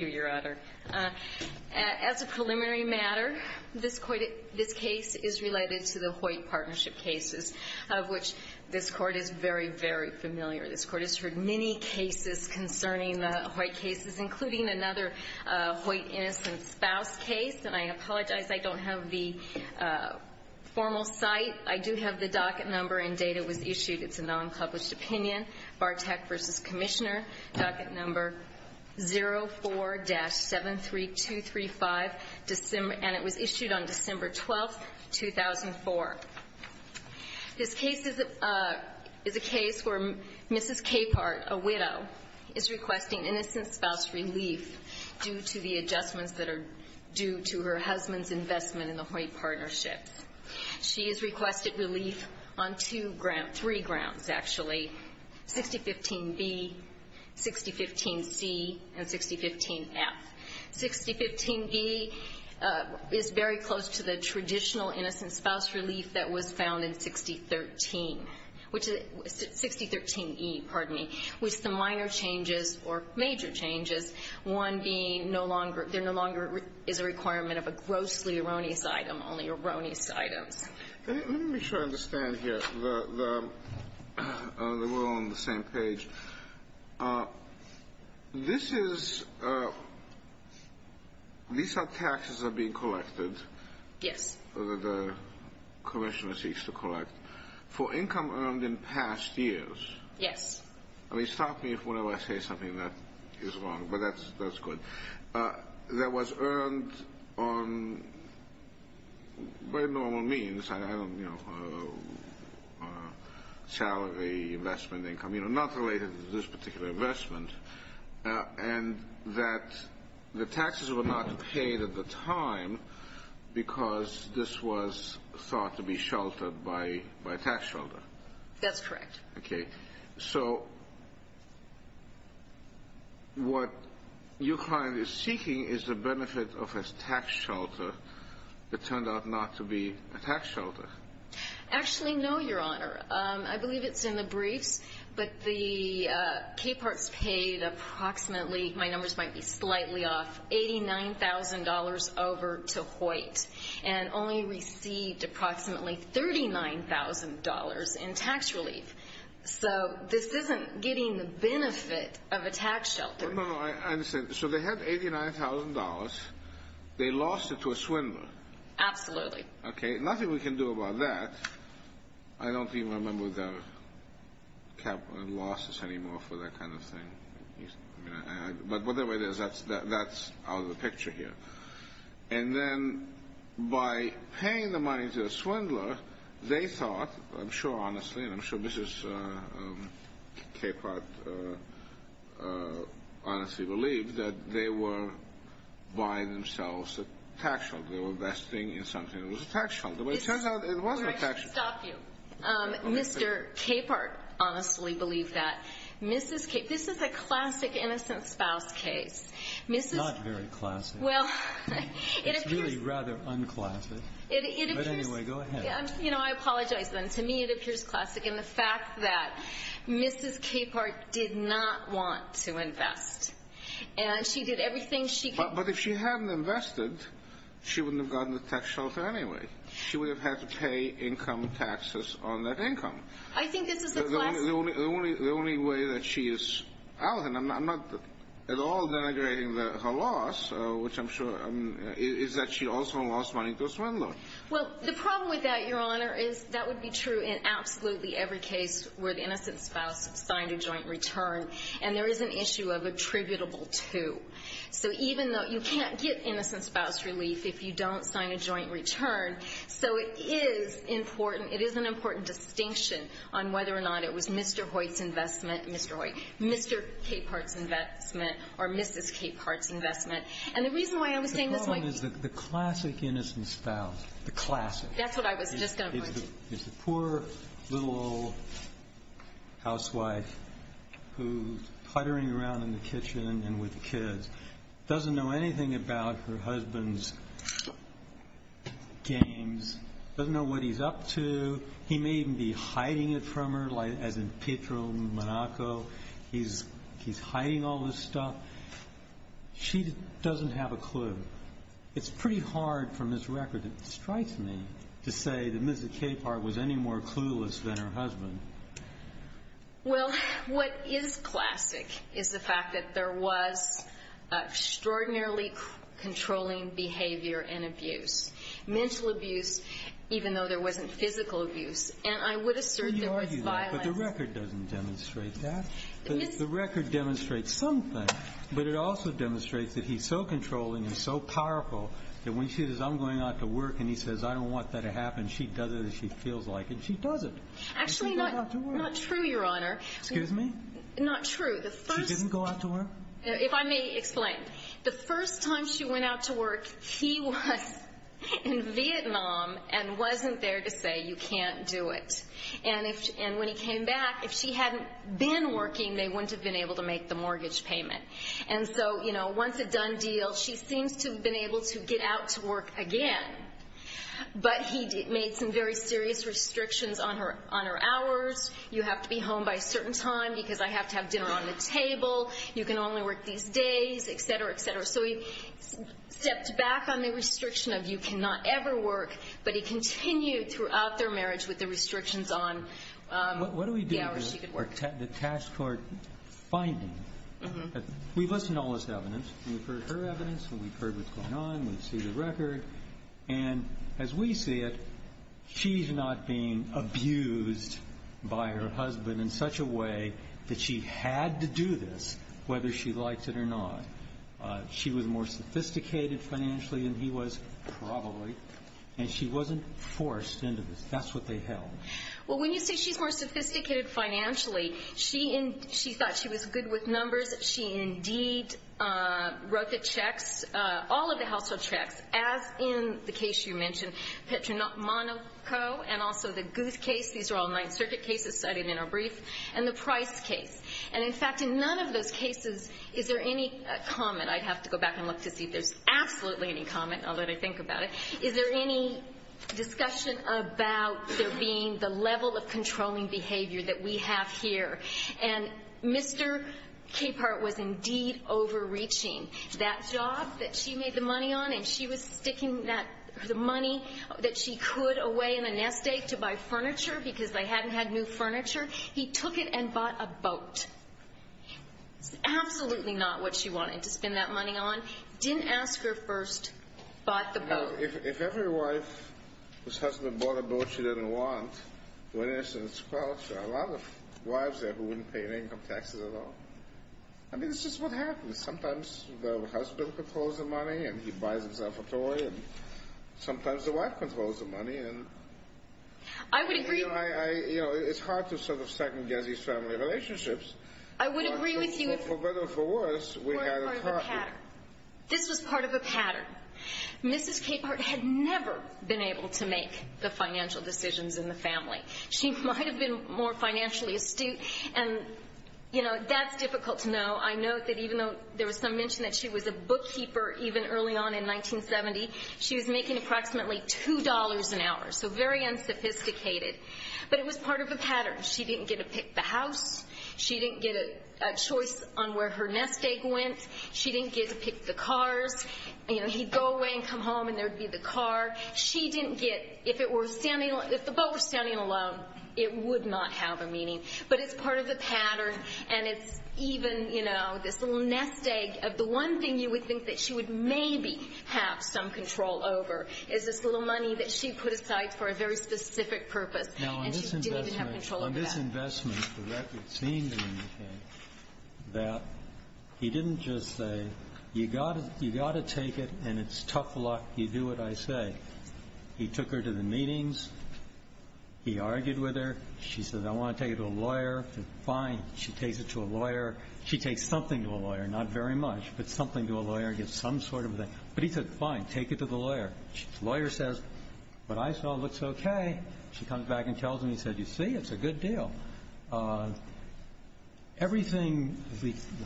As a preliminary matter, this case is related to the Hoyt partnership cases, of which this Court is very, very familiar. This Court has heard many cases concerning the Hoyt cases, including another Hoyt innocent spouse case. And I apologize, I don't have the formal site. I do have the docket number and date it was issued. It's a non-published opinion, Bartek v. Commissioner. Docket number 04-73235, and it was issued on December 12, 2004. This case is a case where Mrs. Capehart, a widow, is requesting innocent spouse relief due to the adjustments that are due to her husband's investment in the Hoyt partnerships. She has requested relief on three grounds, actually, 6015-B, 6015-C, and 6015-F. 6015-B is very close to the traditional innocent spouse relief that was found in 6013-E, which the minor changes, or major changes, one being there no longer is a requirement of a grossly erroneous items. Let me make sure I understand here, that we're all on the same page. This is, these are taxes that are being collected, the Commissioner seeks to collect, for income earned in past years. Yes. I mean, stop me if whenever I say something that is wrong, but that's good. That was earned on very normal means, I don't, you know, salary, investment, income, you know, not related to this particular investment, and that the taxes were not paid at the time because this was thought to be sheltered by a tax shelter. That's correct. Okay. So, what your client is seeking is the benefit of a tax shelter that turned out not to be a tax shelter. Actually, no, Your Honor. I believe it's in the briefs, but the KAPARTS paid approximately, my numbers might be slightly off, $89,000 over to Hoyt, and only received approximately $39,000 in tax relief. So, this isn't getting the benefit of a tax shelter. No, no, I understand. So, they had $89,000, they lost it to a swindler. Absolutely. Okay, nothing we can do about that. I don't even remember the KAPARTS losses anymore for that kind of thing, but whatever it is, that's out of the picture here. And then, by paying the money to a swindler, they thought, I'm sure honestly, and I'm sure Mrs. KAPARTS honestly believed, that they were buying themselves a tax shelter. They were investing in something that was a tax shelter. But it turns out it wasn't a tax shelter. I should stop you. Mr. KAPARTS honestly believed that. Mrs. KAPARTS, this is a classic innocent spouse case. It's not very classic. It's really rather unclassic. But anyway, go ahead. You know, I apologize then. To me, it appears classic in the fact that Mrs. KAPARTS did not want to invest. And she did everything she could. But if she hadn't invested, she wouldn't have gotten the tax shelter anyway. She would have had to pay income taxes on that income. I think this is a classic. The only way that she is, I'm not at all denigrating her loss, which I'm sure, is that she also lost money to a swindler. Well, the problem with that, Your Honor, is that would be true in absolutely every case where the innocent spouse signed a joint return. And there is an issue of attributable to. So even though you can't get innocent spouse relief if you don't sign a joint return, so it is important, it is an important distinction on whether or not it was Mr. Hoyt's investment, Mr. Hoyt, Mr. KAPARTS' investment, or Mrs. KAPARTS' investment. And the reason why I was saying this might be... The problem is that the classic innocent spouse, the classic... That's what I was just going to point to. ...is the poor little old housewife who's puttering around in the kitchen and with the kids, doesn't know anything about her husband's games, doesn't know what he's up to. He may even be hiding it from her, as in Pietro Monaco. He's hiding all this stuff. She doesn't have a clue. It's pretty hard from this record, it strikes me, to say that Mrs. KAPARTS was any more clueless than her husband. Well, what is classic is the fact that there was extraordinarily controlling behavior and abuse. Mental abuse, even though there wasn't physical abuse. And I would assert there was violence... You argue that, but the record doesn't demonstrate that. The record demonstrates something, but it also demonstrates that he's so controlling and so powerful that when she says, I'm going out to work, and he says, I don't want that to happen, she does it as she feels like it, and she does it. Actually, not true, Your Honor. Excuse me? Not true. She didn't go out to work? If I may explain. The first time she went out to work, he was in Vietnam and wasn't there to say, you can't do it. And when he came back, if she hadn't been working, they wouldn't have been able to make the mortgage payment. And so, you know, once a done deal, she seems to have been able to get out to work again. But he made some very serious restrictions on her hours, you have to be home by a certain time because I have to have dinner on the table, you can only work these days, etc., etc. So he stepped back on the restriction of you cannot ever work, but he continued throughout their marriage with the restrictions on the hours she could work. What do we do with the task force finding? We've listened to all this evidence, we've heard her evidence, we've heard what's going on, we've seen the record, and as we see it, she's not being abused by her husband in such a way that she had to do this whether she liked it or not. She was more sophisticated financially than he was, probably. And she wasn't forced into this, that's what they held. Well, when you say she's more sophisticated financially, she thought she was good with numbers, she indeed wrote the checks, all of the household checks, as in the case you mentioned, Petronat Monaco, and also the Guth case, these are all Ninth Circuit cases cited in our brief, and the Price case. And in fact, in none of those cases is there any comment, I'd have to go back and look to see if there's absolutely any comment, I'll let her think about it, is there any discussion about there being the level of controlling behavior that we have here? And Mr. Capehart was indeed overreaching. That job that she made the money on, and she was sticking the money that she could away in a nest egg to buy furniture, because they hadn't had new furniture, he took it and bought a boat. Absolutely not what she wanted to spend that money on. Didn't ask her first, bought the boat. If every wife whose husband bought a boat she didn't want, well, there are a lot of wives there who wouldn't pay any income taxes at all. I mean, it's just what happens, sometimes the husband controls the money, and he buys himself a toy, and sometimes the wife controls the money. I would agree. It's hard to sort of second-guess these family relationships. I would agree with you. For better or for worse, we had a problem. This was part of a pattern. Mrs. Capehart had never been able to make the financial decisions in the family. She might have been more financially astute, and that's difficult to know. I know that even though there was some mention that she was a bookkeeper even early on in 1970, she was making approximately $2 an hour, so very unsophisticated. But it was part of a pattern. She didn't get to pick the house. She didn't get a choice on where her nest egg went. She didn't get to pick the cars. He'd go away and come home, and there'd be the car. She didn't get, if the boat was standing alone, it would not have a meaning. But it's part of the pattern, and it's even this little nest egg of the one thing you would think that she would maybe have some control over is this little money that she put aside for a very specific purpose, and she didn't even have control over that. Now, on this investment, the record seems to indicate that he didn't just say, you've got to take it, and it's tough luck, you do what I say. He took her to the meetings. He argued with her. She said, I want to take it to a lawyer. Fine, she takes it to a lawyer. She takes something to a lawyer, not very much, but something to a lawyer, some sort of thing. But he said, fine, take it to the lawyer. The lawyer says, what I saw looks okay. She comes back and tells him. He said, you see, it's a good deal. Everything,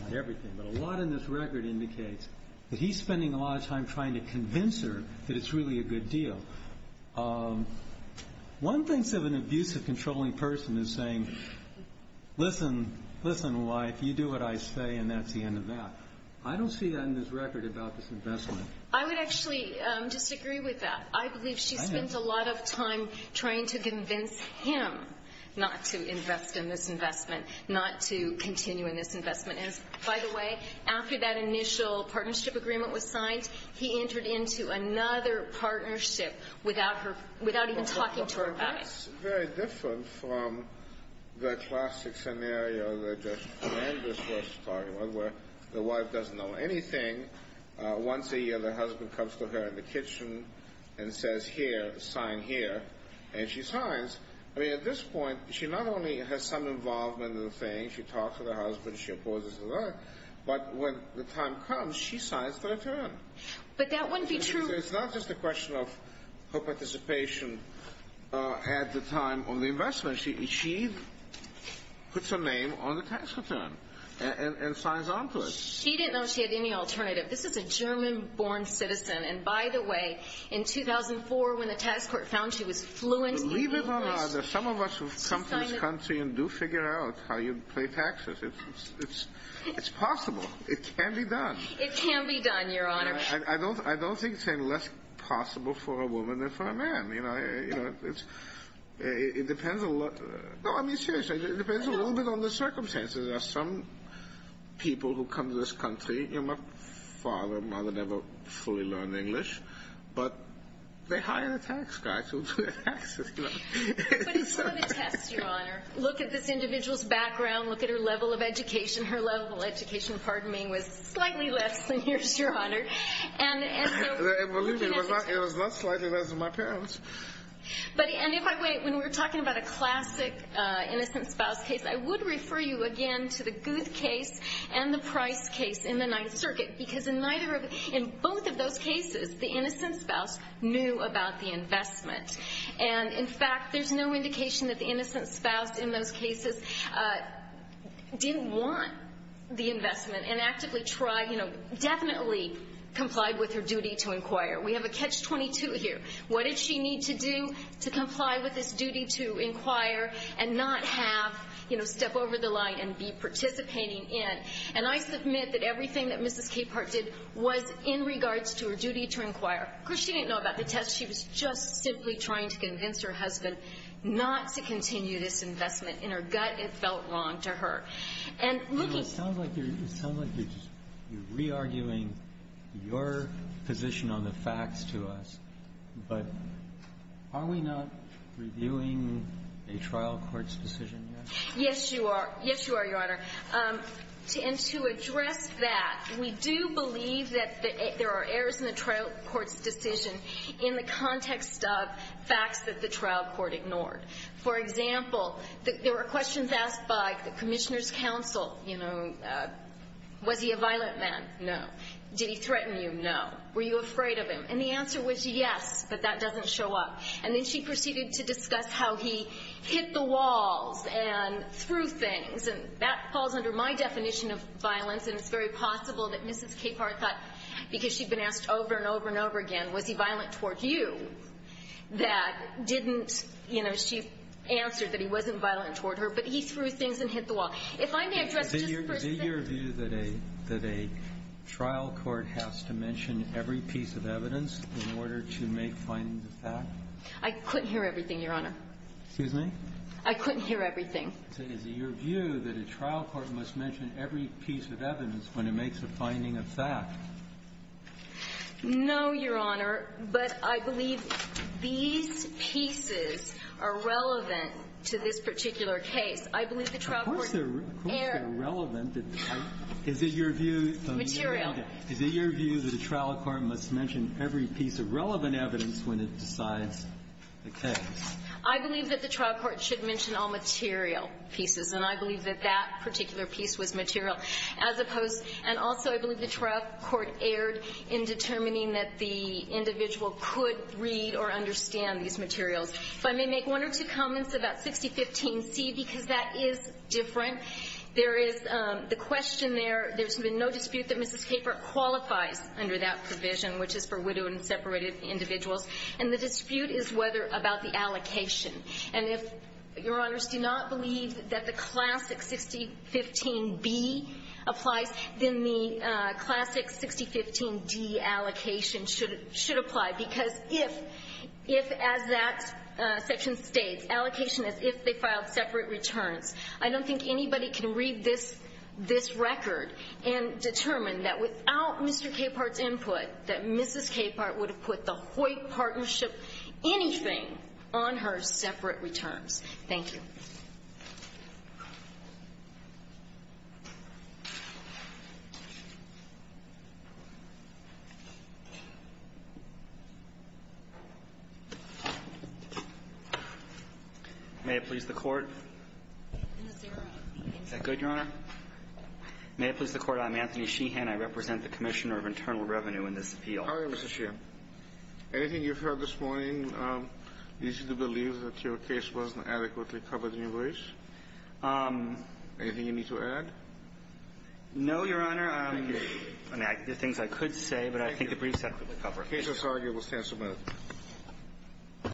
not everything, but a lot in this record indicates that he's spending a lot of time trying to convince her that it's really a good deal. One thing of an abusive, controlling person is saying, listen, listen, wife, you do what I say, and that's the end of that. I don't see that in this record about this investment. I would actually disagree with that. I believe she spent a lot of time trying to convince him not to invest in this investment, not to continue in this investment. And, by the way, after that initial partnership agreement was signed, he entered into another partnership without even talking to her about it. That's very different from the classic scenario that Judge Flanders was talking about, where the wife doesn't know anything. Once a year, the husband comes to her in the kitchen and says, here, sign here. And she signs. I mean, at this point, she not only has some involvement in the thing, she talks with her husband, she opposes the law, but when the time comes, she signs the return. But that wouldn't be true. It's not just a question of her participation at the time on the investment. She puts her name on the tax return and signs on to it. She didn't know she had any alternative. This is a German-born citizen. And, by the way, in 2004, when the tax court found she was fluent in English, Believe it or not, some of us who have come to this country and do figure out how you pay taxes, it's possible. It can be done. It can be done, Your Honor. I don't think it's any less possible for a woman than for a man. You know, it depends a lot. No, I mean, seriously. It depends a little bit on the circumstances. There are some people who come to this country, you know, my father and mother never fully learned English, but they hired a tax guy to do their taxes. But it's still a test, Your Honor. Look at this individual's background, look at her level of education. Her level of education, pardon me, was slightly less than yours, Your Honor. And believe me, it was not slightly less than my parents. And if I may, when we're talking about a classic innocent spouse case, I would refer you again to the Guth case and the Price case in the Ninth Circuit because in both of those cases, the innocent spouse knew about the investment. And, in fact, there's no indication that the innocent spouse in those cases definitely complied with her duty to inquire. We have a catch-22 here. What did she need to do to comply with this duty to inquire and not have, you know, step over the line and be participating in? And I submit that everything that Mrs. Capehart did was in regards to her duty to inquire. Of course, she didn't know about the test. She was just simply trying to convince her husband not to continue this investment. In her gut, it felt wrong to her. It sounds like you're re-arguing your position on the facts to us. But are we not reviewing a trial court's decision yet? Yes, you are. Yes, you are, Your Honor. And to address that, we do believe that there are errors in the trial court's decision in the context of facts that the trial court ignored. For example, there were questions asked by the commissioner's counsel. You know, was he a violent man? No. Did he threaten you? No. Were you afraid of him? And the answer was yes, but that doesn't show up. And then she proceeded to discuss how he hit the walls and threw things. And that falls under my definition of violence. And it's very possible that Mrs. Capehart thought, because she'd been asked over and over and over again, was he violent towards you? She answered that he wasn't violent toward her, but he threw things and hit the wall. Is it your view that a trial court has to mention every piece of evidence in order to make findings of fact? I couldn't hear everything, Your Honor. Excuse me? I couldn't hear everything. Is it your view that a trial court must mention every piece of evidence when it makes a finding of fact? No, Your Honor. But I believe these pieces are relevant to this particular case. I believe the trial court... Of course they're relevant. Is it your view... Material. Is it your view that a trial court must mention every piece of relevant evidence when it decides the case? I believe that the trial court should mention all material pieces. And I believe that that particular piece was material. As opposed... And also, I believe the trial court erred in determining that the individual could read or understand these materials. If I may make one or two comments about 6015C, because that is different. There is... The question there... There's been no dispute that Mrs. Capert qualifies under that provision, which is for widowed and separated individuals. And the dispute is whether... About the allocation. And if Your Honors do not believe that the classic 6015B applies, then the classic 6015D allocation should apply. Because if, as that section states, allocation as if they filed separate returns, I don't think anybody can read this record and determine that without Mr. Capert's input, that Mrs. Capert would have put the Hoyt partnership, anything, on her separate returns. Thank you. May it please the Court. Is that good, Your Honor? May it please the Court. I'm Anthony Sheehan. I represent the Commissioner of Internal Revenue in this appeal. How are you, Mr. Sheehan? Anything you've heard this morning leads you to believe that your case wasn't adequately covered in your briefs? Anything you need to add? No, Your Honor. Thank you. I mean, there are things I could say, but I think the briefs have to be covered. The case that's argued will stand submitted.